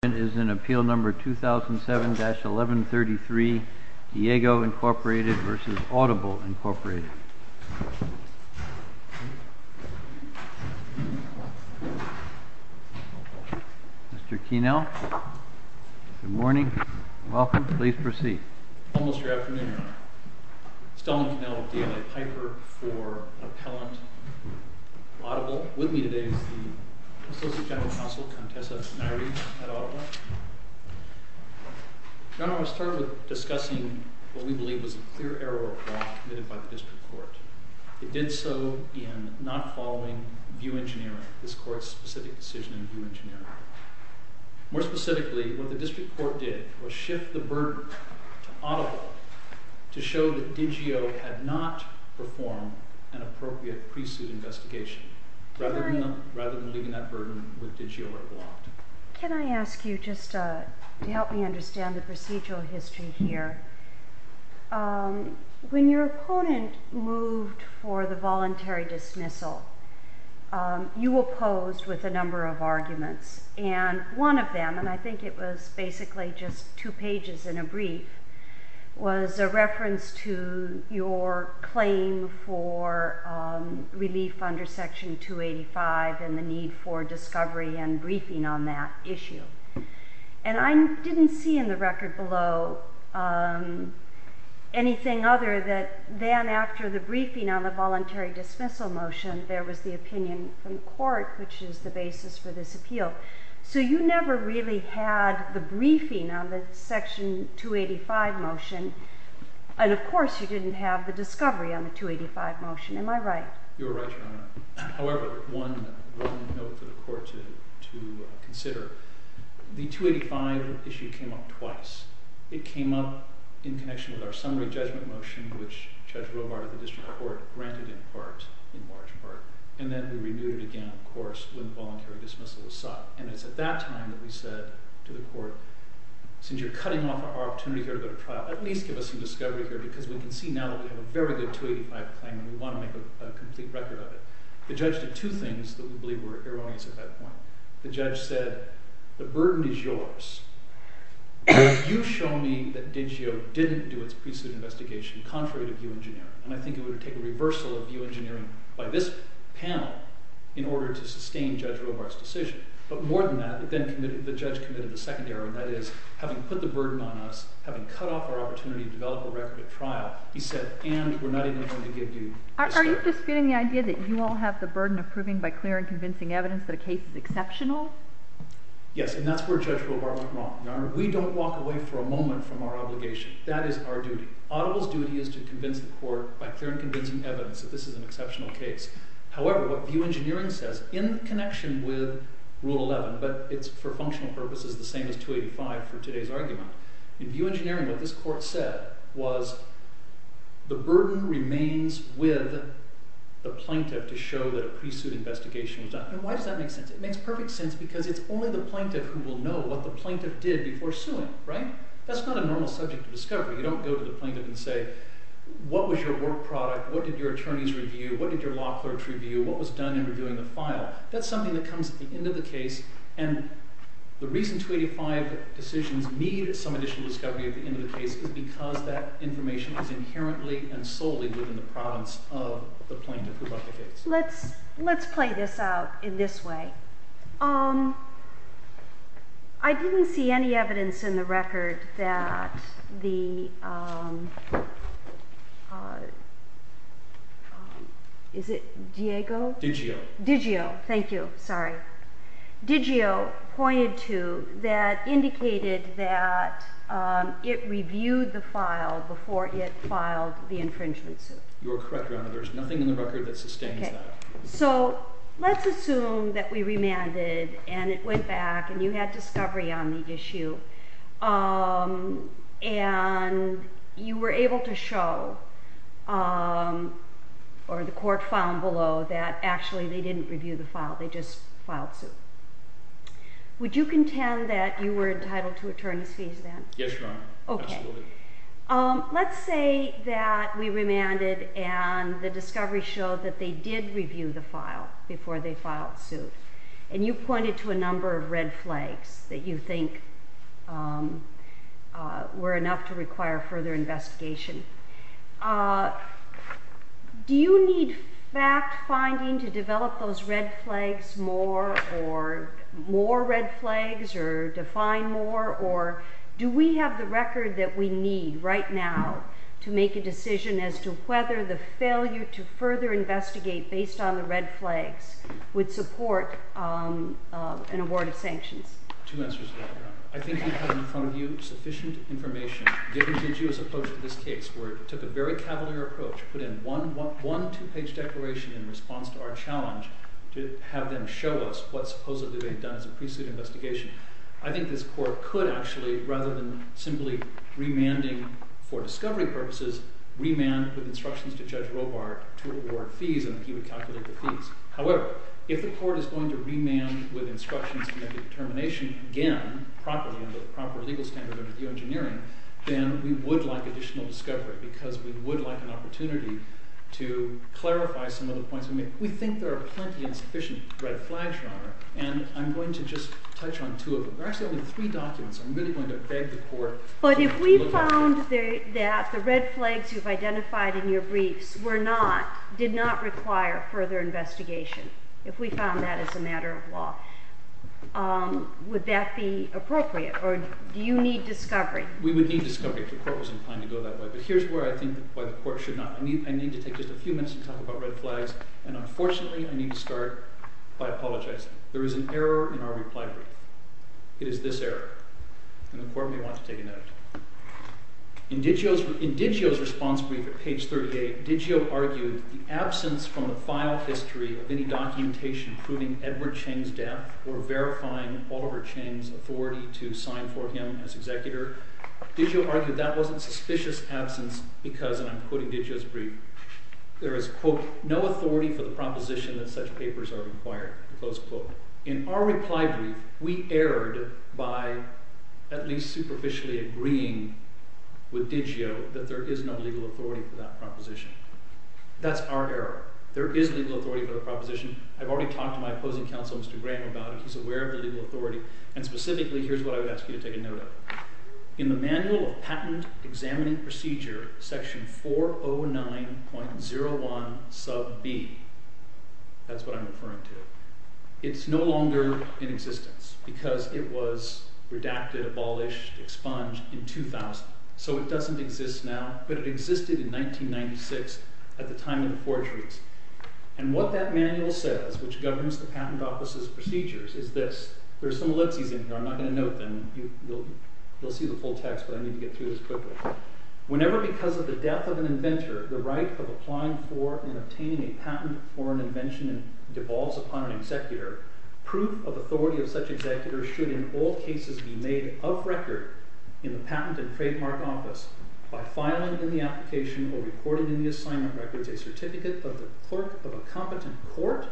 This is an appeal number 2007-1133, Diego Inc v. Audible Inc. Mr. Kienel, good morning, welcome, please proceed. Almost your afternoon, Mr. Kienel, D. L. A. Piper for Appellant, Audible. With me today is the Associate General Counsel, Contessa Nairi at Audible. General, I'll start with discussing what we believe was a clear error of law committed by the District Court. It did so in not following VIEW Engineering, this Court's specific decision in VIEW Engineering. More specifically, what the District Court did was shift the burden to Audible to show that Digio had not performed an appropriate pre-suit investigation, rather than leaving that burden with Digio where it belonged. Can I ask you, just to help me understand the procedural history here, when your opponent moved for the voluntary dismissal, you opposed with a number of arguments, and one of them, and I think it was basically just two pages in a brief, was a reference to your claim for relief under Section 285 and the need for discovery and briefing on that issue. And I didn't see in the record below anything other than after the briefing on the voluntary dismissal motion, there was the opinion from the Court, which is the basis for this appeal. So you never really had the briefing on the Section 285 motion, and of course you didn't have the discovery on the 285 motion. Am I right? You're right, Your Honor. However, one note for the Court to consider. The 285 issue came up twice. It came up in connection with our summary judgment motion, which Judge Robart of the District Court granted in part, in large part. And then we renewed it again, of course, when the voluntary dismissal was sought. And it's at that time that we said to the Court, since you're cutting off our opportunity here to go to trial, at least give us some discovery here, because we can see now that we have a very good 285 claim and we want to make a complete record of it. The judge did two things that we believe were erroneous at that point. The judge said, the burden is yours. You show me that DiGio didn't do its pre-suit investigation, contrary to view engineering, and I think it would have taken a reversal of view engineering by this panel in order to sustain Judge Robart's decision. But more than that, the judge committed the second error, and that is, having put the burden on us, having cut off our opportunity to develop a record at trial, he said, and we're not even going to give you discovery. Are you disputing the idea that you all have the burden of proving by clear and convincing evidence that a case is exceptional? Yes, and that's where Judge Robart was wrong. We don't walk away for a moment from our obligation. That is our duty. Audible's duty is to convince the court by clear and convincing evidence that this is an exceptional case. However, what view engineering says, in connection with Rule 11, but it's for functional purposes the same as 285 for today's argument, in view engineering, what this court said was, the burden remains with the plaintiff to show that a pre-suit investigation was done. Why does that make sense? It makes perfect sense because it's only the plaintiff who will know what the plaintiff did before suing. That's not a normal subject of discovery. You don't go to the plaintiff and say, what was your work product? What did your attorneys review? What did your law clerks review? What was done in reviewing the file? That's something that comes at the end of the case, and the reason 285 decisions need some additional discovery at the end of the case is because that information is inherently and solely within the province of the plaintiff who brought the case. Let's play this out in this way. I didn't see any evidence in the record that the... Is it Diego? Digio. Digio. Thank you. Sorry. Digio pointed to that indicated that it reviewed the file before it filed the infringement suit. You are correct, Your Honor. There's nothing in the record that sustains that. Let's assume that we remanded and it went back and you had discovery on the issue and you were able to show, or the court found below, that actually they didn't review the file. They just filed suit. Would you contend that you were entitled to attorney's fees then? Yes, Your Honor. Absolutely. Let's say that we remanded and the discovery showed that they did review the file before they filed suit, and you pointed to a number of red flags that you think were enough to require further investigation. Do you need fact-finding to develop those red flags more, or more red flags, or define more, or do we have the record that we need right now to make a decision as to whether the failure to further investigate based on the red flags would support an award of sanctions? Two answers to that, Your Honor. I think we have in front of you sufficient information, given Digio's approach to this case, where it took a very cavalier approach, put in one two-page declaration in response to our challenge to have them show us what supposedly they've done as a pre-suit investigation. I think this court could actually, rather than simply remanding for discovery purposes, remand with instructions to Judge Robart to award fees, and he would calculate the fees. However, if the court is going to remand with instructions to make a determination again, properly, under the proper legal standard of review engineering, then we would like additional discovery, because we would like an opportunity We think there are plenty and sufficient red flags, Your Honor, and I'm going to just touch on two of them. There are actually only three documents. I'm really going to beg the court to look at them. But if we found that the red flags you've identified in your briefs did not require further investigation, if we found that as a matter of law, would that be appropriate, or do you need discovery? We would need discovery if the court was inclined to go that way. But here's where I think why the court should not. I need to take just a few minutes to talk about red flags, and unfortunately, I need to start by apologizing. There is an error in our reply brief. It is this error. And the court may want to take a note. In DiGio's response brief at page 38, DiGio argued that the absence from the file history of any documentation proving Edward Chang's death or verifying Oliver Chang's authority to sign for him as executor, and I'm quoting DiGio's brief, there is, quote, no authority for the proposition that such papers are required, close quote. In our reply brief, we erred by at least superficially agreeing with DiGio that there is no legal authority for that proposition. That's our error. There is legal authority for the proposition. I've already talked to my opposing counsel, Mr. Graham, about it. He's aware of the legal authority. And specifically, here's what I would ask you to take a note of. In the Manual of Patent Examining Procedure, section 409.01 sub b, that's what I'm referring to, it's no longer in existence because it was redacted, abolished, expunged in 2000. So it doesn't exist now, but it existed in 1996 at the time of the forgeries. And what that manual says, which governs the Patent Office's procedures, is this. There are some litzies in here. I'm not going to note them. You'll see the full text, but I need to get through this quickly. Whenever, because of the death of an inventor, the right of applying for and obtaining a patent for an invention devolves upon an executor, proof of authority of such executor should in all cases be made of record in the Patent and Trademark Office by filing in the application or recording in the assignment records a certificate of the clerk of a competent court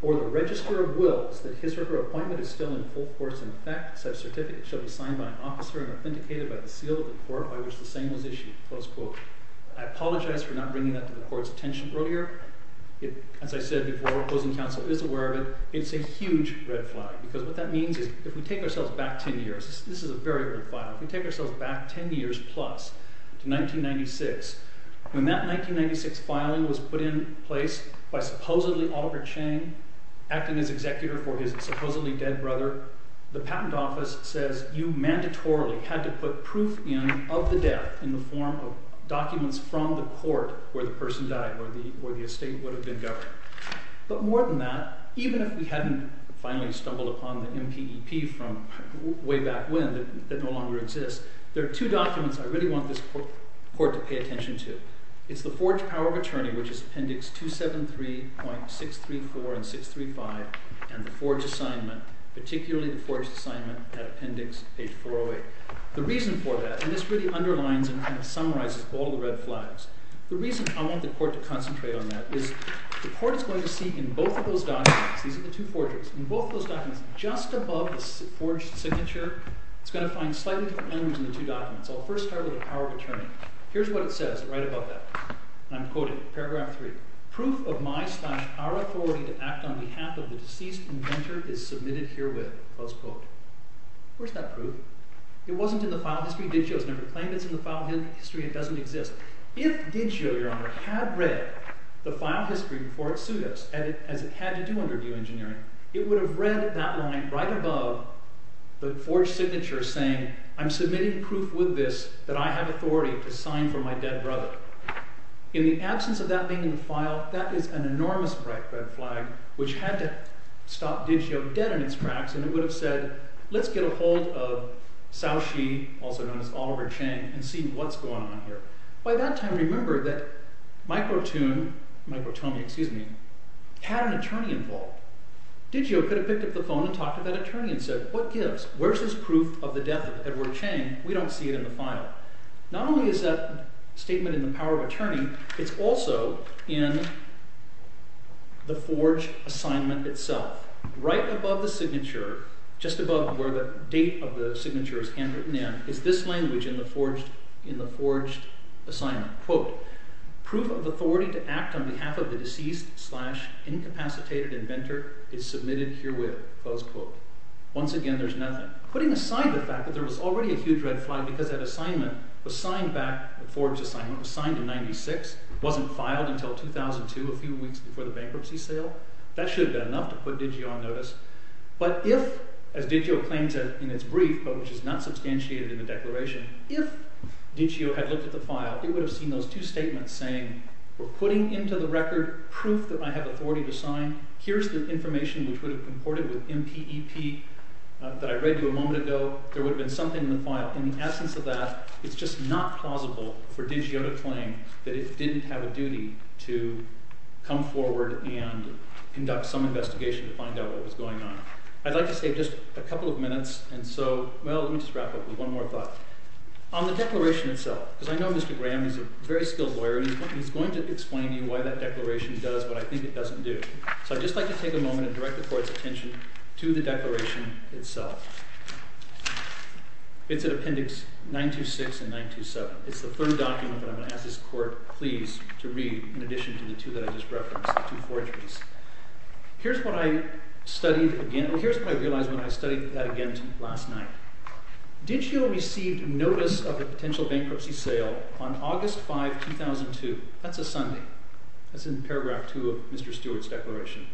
or the register of wills that his or her appointment is still in full force in effect. Such certificate shall be signed by an officer and authenticated by the seal of the court by which the same was issued." I apologize for not bringing that to the court's attention earlier. As I said before, opposing counsel is aware of it. It's a huge red flag, because what that means is if we take ourselves back 10 years, this is a very big file, if we take ourselves back 10 years plus to 1996, when that 1996 filing was put in place by supposedly Oliver Chang acting as executor for his supposedly dead brother, the Patent Office says you mandatorily had to put proof in of the death in the form of documents from the court where the person died, where the estate would have been governed. But more than that, even if we hadn't finally stumbled upon the MPEP from way back when, that no longer exists, there are two documents I really want this court to pay attention to. It's the Forge Power of Attorney, which is Appendix 273.634 and 635, and the Forge Assignment, particularly the Forge Assignment at Appendix page 408. The reason for that, and this really underlines and summarizes all the red flags, the reason I want the court to concentrate on that is the court is going to see in both of those documents, these are the two forgeries, in both of those documents, just above the forged signature, it's going to find slightly different language in the two documents. I'll first start with the Power of Attorney. Here's what it says, right above that. And I'm quoting paragraph 3. Proof of my slash our authority to act on behalf of the deceased inventor is submitted herewith. Where's that proof? It wasn't in the file history. Digio has never claimed it's in the file history. It doesn't exist. If Digio, Your Honor, had read the file history before it sued us, as it had to do under new engineering, it would have read that line right above the forged signature saying I'm submitting proof with this that I have authority to sign for my dead brother. In the absence of that being in the file, that is an enormous red flag which had to stop Digio dead in its tracks and it would have said, let's get a hold of Cao Xi, also known as Oliver Chang, and see what's going on here. By that time, remember that Microtome had an attorney involved. Digio could have picked up the phone and talked to that attorney and said, what gives? Where's this proof of the death of Edward Chang? We don't see it in the file. Not only is that statement in the power of attorney, it's also in the forged assignment itself. Right above the signature, just above where the date of the signature is handwritten in, is this language in the forged assignment. Proof of authority to act on behalf of the deceased slash incapacitated inventor is submitted herewith. Once again, there's nothing. Putting aside the fact that there was already a huge red flag because that assignment was signed back, the forged assignment was signed in 96, wasn't filed until 2002, a few weeks before the bankruptcy sale, that should have been enough to put Digio on notice. But if, as Digio claims in its brief, which is not substantiated in the declaration, if Digio had looked at the file, it would have seen those two statements saying we're putting into the record proof that I have authority to sign, here's the information which would have comported with MPEP that I read to you a moment ago, there would have been something in the file. In the absence of that, it's just not plausible for Digio to claim that it didn't have a duty to come forward and conduct some investigation to find out what was going on. I'd like to save just a couple of minutes, and so, well, let me just wrap up with one more thought. On the declaration itself, because I know Mr. Graham is a very skilled lawyer and he's going to explain to you why that So I'd just like to take a moment and direct the court's attention to the declaration itself. It's in appendix 926 and 927. It's the third document that I'm going to ask this court, please, to read in addition to the two that I just referenced, the two forgeries. Here's what I realized when I studied that again last night. Digio received notice of a potential bankruptcy sale on August 5, 2002. That's a Sunday. That's in paragraph 2 of Mr. Stewart's declaration.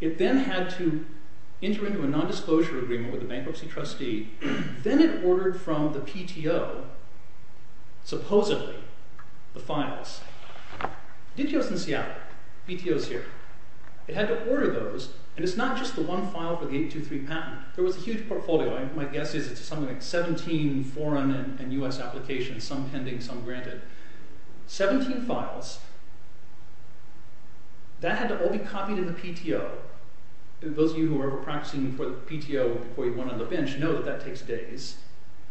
It then had to enter into a non-disclosure agreement with a bankruptcy trustee. Then it ordered from the PTO, supposedly, the files. Digio's in Seattle. PTO's here. It had to order those, and it's not just the one file for the 823 patent. There was a huge portfolio. My guess is it's something like 17 foreign and U.S. applications, some pending, some granted. 17 files. That had to all be copied in the PTO. Those of you who were practicing for the PTO before you went on the bench know that that takes days.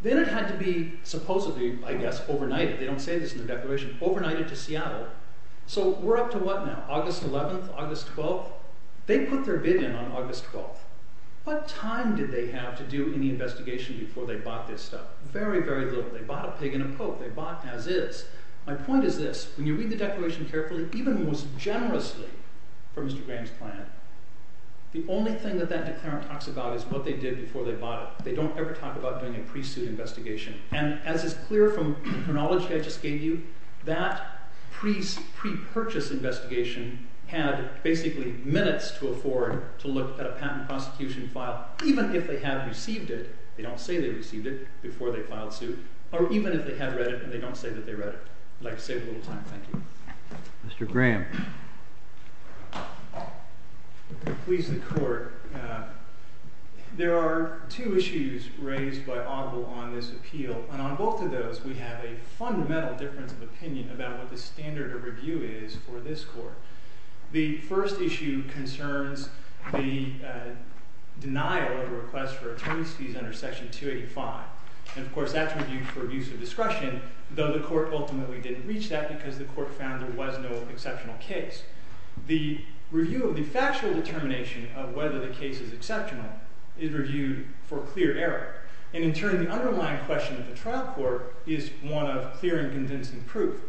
Then it had to be, supposedly, I guess, overnighted. They don't say this in their declaration. Overnighted to Seattle. We're up to what now? August 11th? August 12th? They put their bid in on August 12th. What time did they have to do any investigation before they bought this stuff? Very, very little. They bought a pig and a poke. They bought as is. My point is this. When you read the declaration carefully, even most generously for Mr. Graham's plan, the only thing that that declaration talks about is what they did before they bought it. They don't ever talk about doing a pre-suit investigation. As is clear from the chronology I just gave you, that pre-purchase investigation had, basically, minutes to afford to look at a patent prosecution file, even if they had received it. They don't say they or even if they had read it, and they don't say that they read it. I'd like to save a little time. Thank you. Mr. Graham. Please, the Court. There are two issues raised by Audible on this appeal, and on both of those, we have a fundamental difference of opinion about what the standard of review is for this Court. The first issue concerns the denial of a request for attorney's fees under Section 285. Of course, that's reviewed for abuse of discretion, though the Court ultimately didn't reach that because the Court found there was no exceptional case. The review of the factual determination of whether the case is exceptional is reviewed for clear error. In turn, the underlying question of the trial court is one of clear and convincing proof.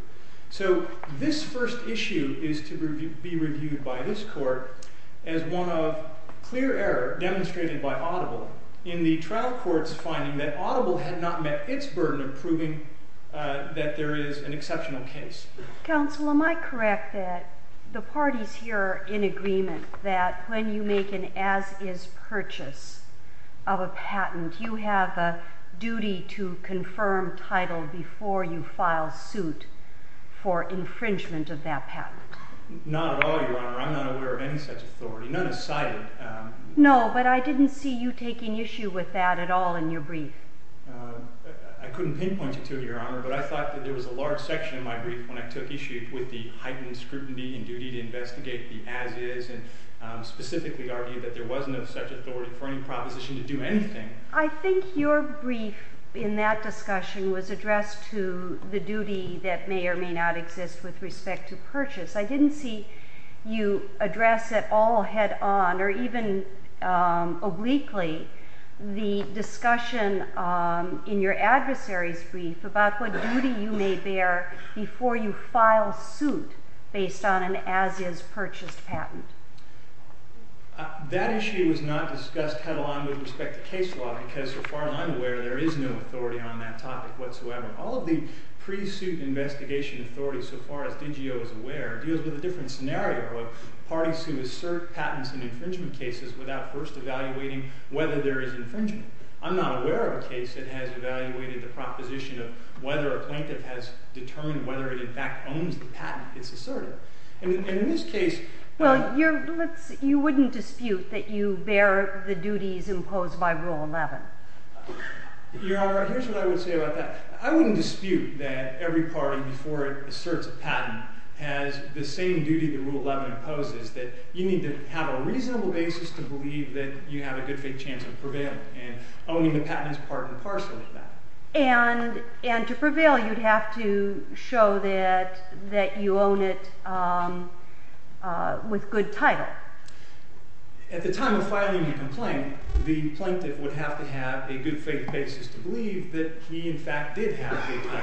This first issue is to be reviewed by this Court as one of clear error demonstrated by Audible in the trial court's finding that Audible had not met its burden of proving that there is an exceptional case. Counsel, am I correct that the parties here are in agreement that when you make an as-is purchase of a patent, you have a duty to confirm title before you file suit for infringement of that patent? Not at all, Your Honor. I'm not aware of any such authority. None is cited. No, but I didn't see you taking issue with that at all in your brief. I couldn't pinpoint it to you, Your Honor, but I thought that there was a large section of my brief when I took issue with the heightened scrutiny and duty to investigate the as-is and specifically argue that there wasn't such authority for any proposition to do anything. I think your brief in that discussion was addressed to the duty that may or may not exist with respect to purchase. I didn't see you address it all head-on or even obliquely the discussion in your adversary's brief about what duty you may bear before you file suit based on an as-is purchased patent. That issue was not discussed head-on with respect to case law because, so far as I'm aware, there is no authority on that topic whatsoever. All of the pre-suit investigation authorities, so far as DGO is aware, deals with a different scenario of parties who assert patents in infringement cases without first evaluating whether there is infringement. I'm not aware of a case that has evaluated the proposition of whether a plaintiff has determined whether it in fact owns the patent it's asserted. And in this case... Well, you wouldn't dispute that you bear the duties imposed by Rule 11. Your Honor, here's what I would say about that. I wouldn't dispute that every party before asserts a patent has the same duty that Rule 11 imposes, that you need to have a reasonable basis to believe that you have a good faith chance of prevailing. And owning a patent is part and parcel of that. And to prevail, you'd have to show that you own it with good title. At the time of filing a complaint, the plaintiff would have to have a good faith basis to believe that he in fact did have a good title.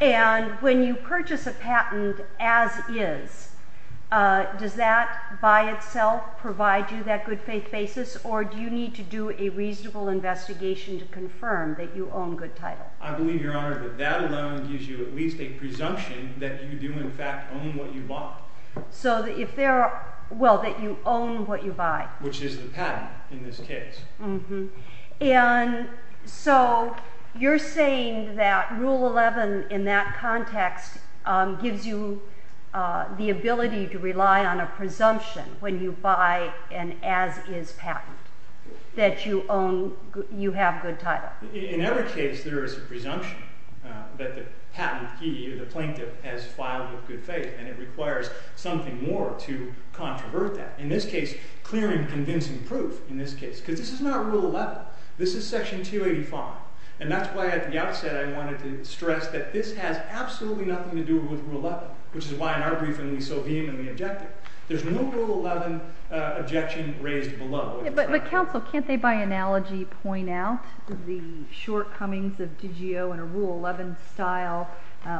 And when you purchase a patent as is, does that by itself provide you that good faith basis, or do you need to do a reasonable investigation to confirm that you own good title? I believe, Your Honor, that that alone gives you at least a presumption that you do in fact own what you buy. Well, that you own what you buy. Which is the patent in this case. And so, you're saying that Rule 11 in that context gives you the ability to rely on a presumption when you buy an as is patent, that you own you have good title. In every case, there is a presumption that the patentee, or the plaintiff, has filed with good faith. And it requires something more to controvert that. In this case, clearing convincing proof, in this case. Because this is not Rule 11. This is Section 285. And that's why at the outset I wanted to stress that this has absolutely nothing to do with Rule 11. Which is why in our briefing we so vehemently objected. There's no Rule 11 objection raised below. But, Counsel, can't they by analogy point out the shortcomings of DiGio in a Rule 11 style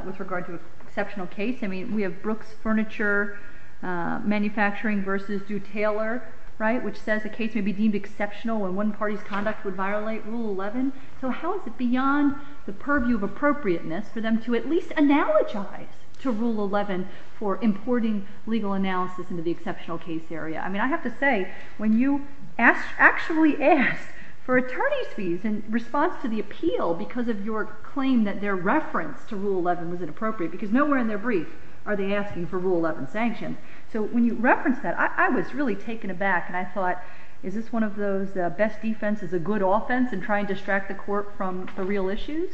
with regard to an exceptional case? I mean, we have Brooks Furniture Manufacturing versus Dew Taylor, right, which says the case may be deemed exceptional when one party's conduct would violate Rule 11. So how is it beyond the purview of appropriateness for them to at least analogize to Rule 11 for importing legal analysis into the exceptional case area? I mean, I have to say, when you actually ask for attorney's fees in response to the appeal because of your claim that their reference to Rule 11 was inappropriate because nowhere in their brief are they asking for Rule 11 sanctions. So when you reference that, I was really taken aback and I thought, is this one of those best defense is a good offense in trying to distract the court from the real issues?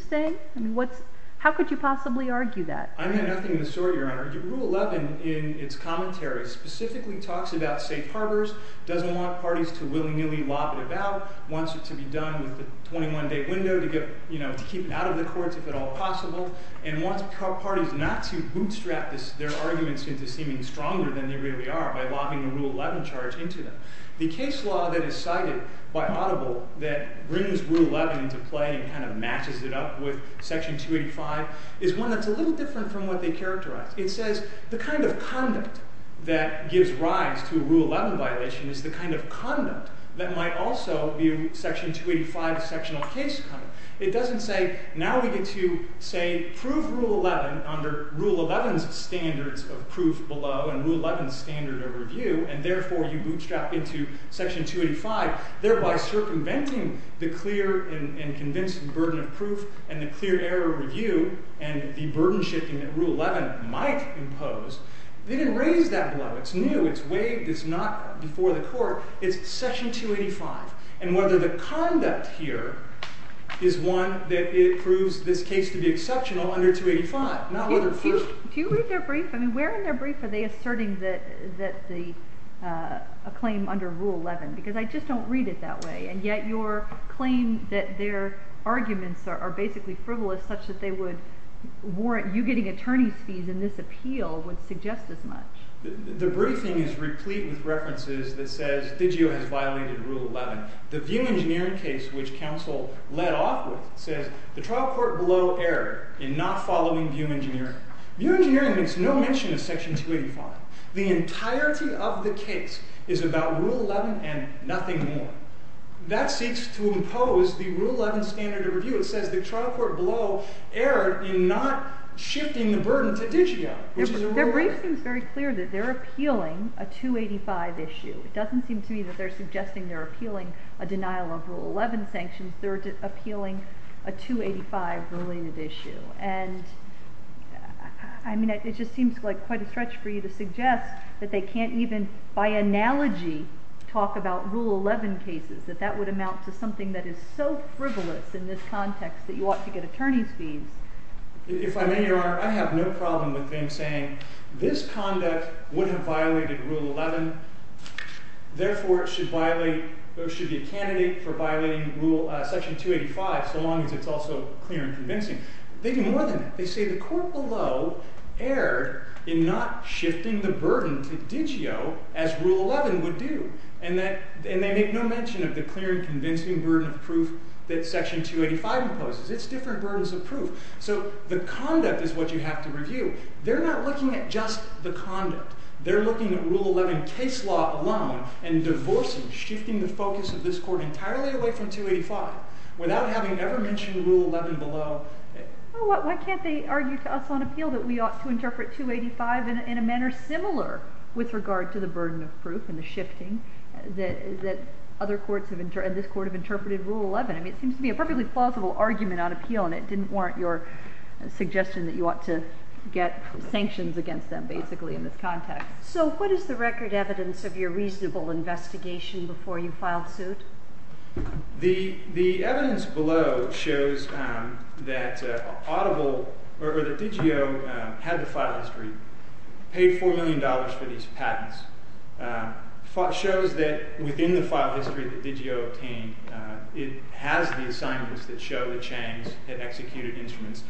How could you possibly argue that? I mean, nothing of the sort, Your Honor. Rule 11 in its commentary specifically talks about safe harbors, doesn't want parties to willy-nilly lob it about, wants it to be done with a 21-day window to keep it out of the courts if at all possible, and wants parties not to bootstrap their arguments into seeming stronger than they really are by lobbing a Rule 11 charge into them. The case law that is cited by Audible that brings Rule 11 into play and kind of matches it up with Section 285 is one that's a little different from what they characterize. It says the kind of conduct that gives rise to a Rule 11 violation is the kind of conduct that might also view Section 285 as sectional case conduct. It doesn't say, now we get to say, prove Rule 11 under Rule 11's standards of review, and therefore you bootstrap into Section 285, thereby circumventing the clear and convincing burden of proof and the clear error of review, and the burden shifting that Rule 11 might impose. They didn't raise that blow. It's new. It's waived. It's not before the court. It's Section 285. And whether the conduct here is one that proves this case to be exceptional under 285, not whether proof... Do you read their brief? I mean, where in their is a claim under Rule 11? Because I just don't read it that way. And yet your claim that their arguments are basically frivolous such that they would warrant you getting attorney's fees in this appeal would suggest as much. The briefing is replete with references that says DiGio has violated Rule 11. The VIEW Engineering case which counsel led off with says the trial court blow error in not following VIEW Engineering. VIEW Engineering makes no mention of Section 285. The entirety of the case is about Rule 11 and nothing more. That seeks to impose the Rule 11 standard of review. It says the trial court blow error in not shifting the burden to DiGio. Their brief seems very clear that they're appealing a 285 issue. It doesn't seem to me that they're suggesting they're appealing a denial of Rule 11 sanctions. They're appealing a 285 related issue. And... I mean, it just seems like quite a stretch for you to suggest that they can't even, by analogy, talk about Rule 11 cases. That that would amount to something that is so frivolous in this context that you ought to get attorney's fees. If I may, Your Honor, I have no problem with them saying this conduct would have violated Rule 11. Therefore it should violate, it should be a candidate for violating Rule Section 285 so long as it's also clear and convincing. They do more than that. They say the court below erred in not shifting the burden to DiGio as Rule 11 would do. And they make no mention of the clear and convincing burden of proof that Section 285 imposes. It's different burdens of proof. So the conduct is what you have to review. They're not looking at just the conduct. They're looking at Rule 11 case law alone and divorcing, shifting the focus of this court entirely away from 285 without having ever mentioned Rule 11 below. Why can't they argue to us on appeal that we ought to interpret 285 in a manner similar with regard to the burden of proof and the shifting that other courts and this court have interpreted Rule 11? I mean it seems to be a perfectly plausible argument on appeal and it didn't warrant your suggestion that you ought to get sanctions against them basically in this context. So what is the record evidence of your reasonable investigation before you filed suit? The evidence below shows that DiGio had the file history, paid $4 million for these patents, shows that within the file history that DiGio obtained it has the assignments that show that Changs had executed instruments.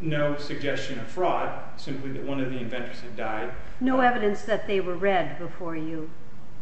No suggestion of fraud, simply that one of the inventors had died. No evidence that they were read before you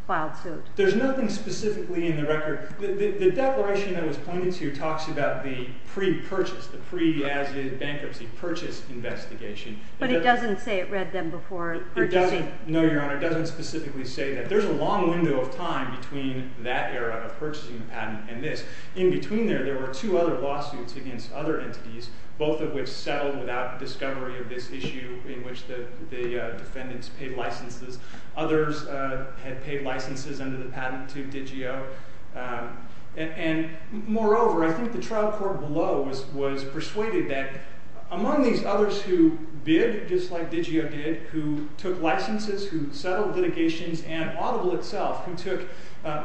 filed a lawsuit. There's nothing specifically in the record. The declaration I was pointing to talks about the pre-purchase, the pre-bankruptcy purchase investigation. But it doesn't say it read them before purchasing? No, Your Honor, it doesn't specifically say that. There's a long window of time between that era of purchasing the patent and this. In between there, there were two other lawsuits against other entities both of which settled without discovery of this issue in which the defendants paid licenses. Others had paid licenses under the patent to DiGio. Moreover, I think the trial court below was persuaded that among these others who bid just like DiGio did, who took licenses, who settled litigations, and Audible itself, who took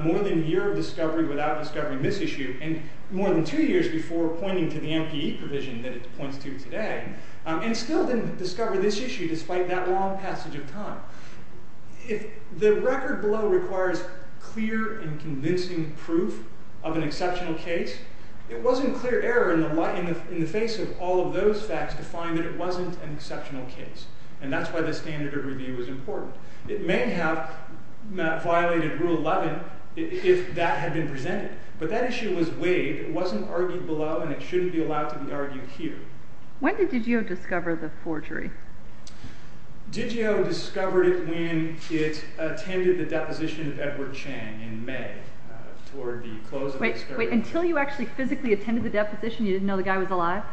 more than a year of discovery without discovering this issue, and more than two years before pointing to the MPE provision that it points to today, and still didn't discover this issue despite that long passage of time. If the record below requires clear and convincing proof of an exceptional case, it wasn't clear error in the face of all of those facts to find that it wasn't an exceptional case. And that's why the standard of review was important. It may have violated Rule 11 if that had been presented. But that issue was weighed, it wasn't argued below, and it shouldn't be allowed to be argued here. When did DiGio discover the forgery? DiGio discovered it when it attended the deposition of Edward Chang in May toward the close of the discovery. Wait, until you actually physically attended the deposition, you didn't know the guy was alive?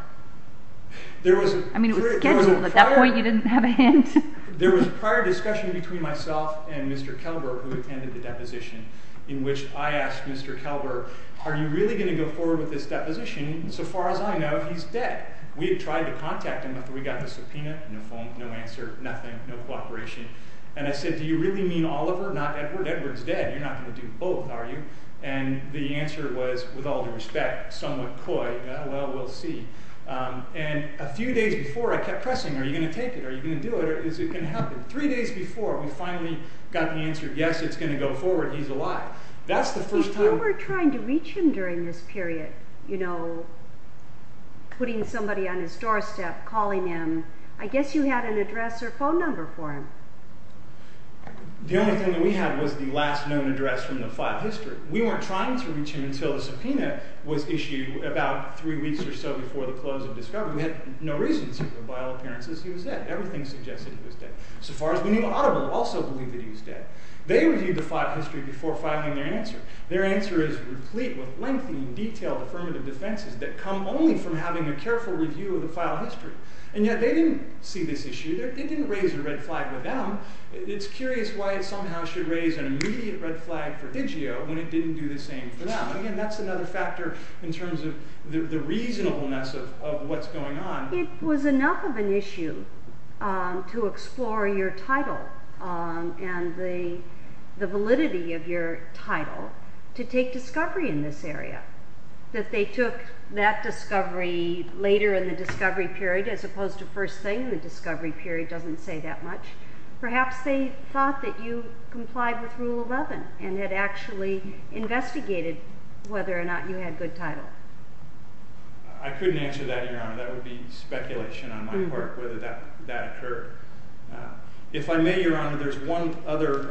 I mean, it was scheduled, at that point you didn't have a hint. There was a prior discussion between myself and Mr. Kelber, who attended the deposition, in which I asked Mr. Kelber, are you really going to go forward with this deposition? So far as I know, he's dead. We had tried to contact him after we got the subpoena. No phone, no answer, nothing. No cooperation. And I said, do you really mean Oliver, not Edward? Edward's dead. You're not going to do both, are you? And the answer was, with all due respect, somewhat coy, well, we'll see. And a few days before, I kept pressing, are you going to take it? Are you going to do it? Is it going to happen? Three days before, we finally got the answer yes, it's going to go forward, he's alive. That's the first time... If you were trying to reach him during this period, you know, putting somebody on his doorstep, calling him, I guess you had an address or phone number for him. The only thing that we had was the last known address from the file history. We weren't trying to reach him until the subpoena was issued about three weeks or so before the close of discovery. We had no reason to, by all appearances, he was dead. Everything suggested he was dead. So far as we knew, Oliver also believed that he was dead. They reviewed the file history before filing their answer. Their answer is replete with lengthy and detailed affirmative defenses that come only from having a careful review of the file history. And yet, they didn't see this issue. They didn't raise a red flag with them. It's curious why it somehow should raise an immediate red flag for Digio when it didn't do the same for them. Again, that's another factor in terms of the reasonableness of what's going on. It was enough of an issue to explore your title and the validity of your title to take discovery in this area. That they took that discovery later in the discovery period as opposed to first thing in the discovery period doesn't say that much. Perhaps they thought that you complied with Rule 11 and had actually investigated whether or not you had good title. I couldn't answer that, Your Honor. That would be speculation on my part, whether that occurred. If I may, Your Honor, there's one other...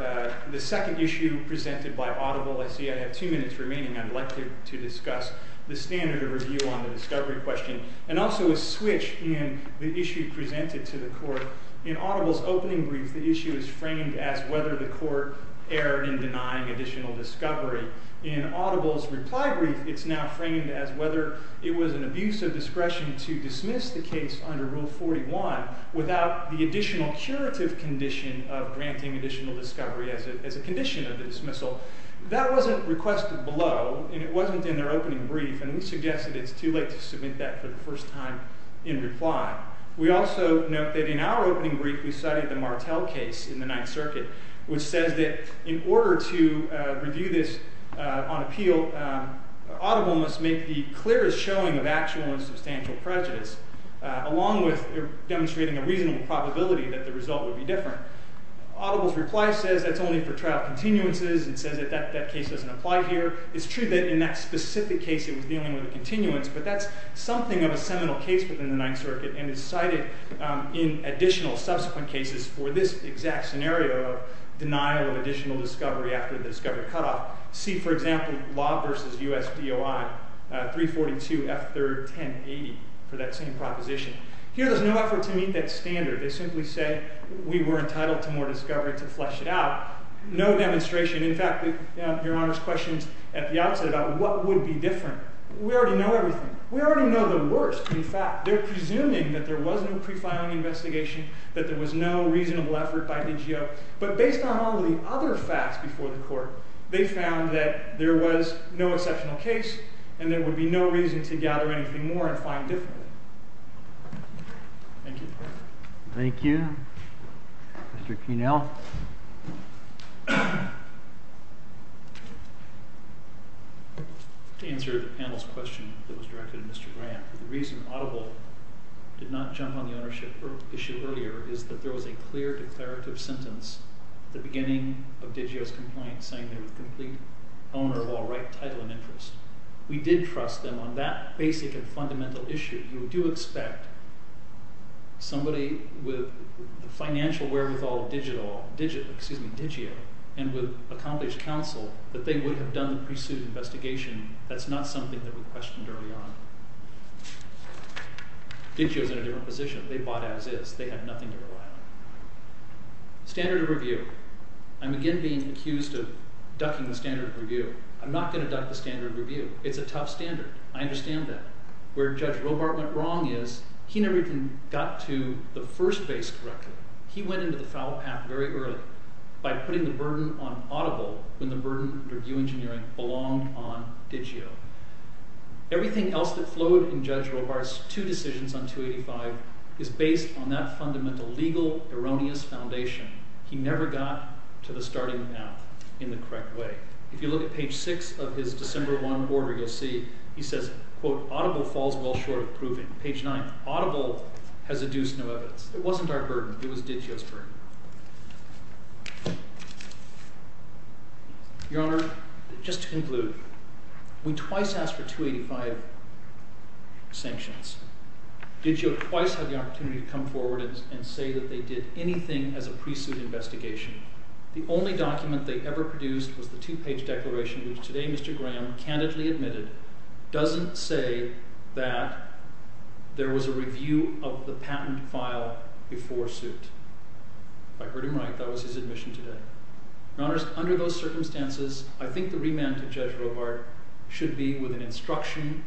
I see I have two minutes remaining. I'd like to discuss the standard of review on the discovery question and also a switch in the issue presented to the court. In Audible's opening brief, the issue is framed as whether the court erred in denying additional discovery. In Audible's reply brief, it's now framed as whether it was an abuse of discretion to dismiss the case under Rule 41 without the additional curative condition of granting additional discovery as a condition of the dismissal. That wasn't requested below and it wasn't in their opening brief and we suggest that it's too late to submit that for the first time in reply. We also note that in our opening brief, we cited the Martel case in the Ninth Circuit, which says that in order to review this on appeal, Audible must make the clearest showing of actual and substantial prejudice along with demonstrating a reasonable probability that the result would be true. The court says that's only for trial continuances. It says that that case doesn't apply here. It's true that in that specific case, it was dealing with a continuance, but that's something of a seminal case within the Ninth Circuit and is cited in additional subsequent cases for this exact scenario of denial of additional discovery after the discovery cutoff. See, for example, Law v. U.S. DOI 342 F. 3rd 1080 for that same proposition. Here, there's no effort to meet that standard. They simply say we were entitled to more discovery to flesh it out. No demonstration. In fact, Your Honor's questions at the outset about what would be different. We already know everything. We already know the worst. In fact, they're presuming that there was no pre-filing investigation, that there was no reasonable effort by DGO. But based on all the other facts before the court, they found that there was no exceptional case, and there would be no reason to gather anything more and find differently. Thank you. Thank you. Mr. Kienel. To answer the panel's question that was directed to Mr. Grant, the reason Audible did not jump on the ownership issue earlier is that there was a clear declarative sentence at the beginning of DGO's complaint saying they were the complete owner of all right, title, and interest. We did trust them on that basic and fundamental issue. We do expect somebody with the financial wherewithal of DIGIO and with accomplished counsel that they would have done the pre-suit investigation. That's not something that we questioned early on. DIGIO's in a different position. They bought as is. They had nothing to rely on. Standard of review. I'm again being accused of ducking the standard of review. I'm not going to duck the standard of review. It's a tough standard. I understand that. Where Judge Robart went wrong is he never even got to the first base correctly. He went into the foul path very early by putting the burden on Audible when the burden of review engineering belonged on DIGIO. Everything else that flowed in Judge Robart's two decisions on 285 is based on that fundamental legal erroneous foundation. He never got to the starting path in the correct way. If you look at page 6 of his December 1 order, you'll see he says, Audible falls well short of proving. Page 9, Audible has adduced no evidence. It wasn't our burden. It was DIGIO's burden. Your Honor, just to conclude, we twice asked for 285 sanctions. DIGIO twice had the opportunity to come forward and say that they did anything as a pre-suit investigation. The only document they ever produced was the two-page declaration which today Mr. Graham candidly admitted doesn't say that there was a review of the patent file before suit. If I heard him right, that was his admission today. Your Honor, under those circumstances, I think the remand to Judge Robart should be with an instruction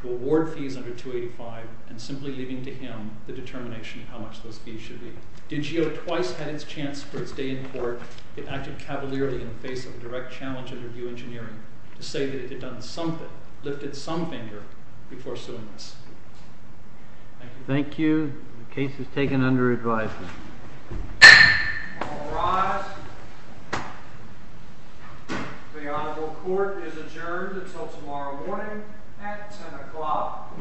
to award fees under 285 and simply leaving to him the determination of how much those fees should be. DIGIO twice had its chance for its day in court. It acted cavalierly in the face of a direct challenge to review engineering to say that it had done something, lifted some finger, before suing us. Thank you. Thank you. The case is taken under advisement. All rise. The Honorable Court is adjourned until tomorrow morning at 10 o'clock.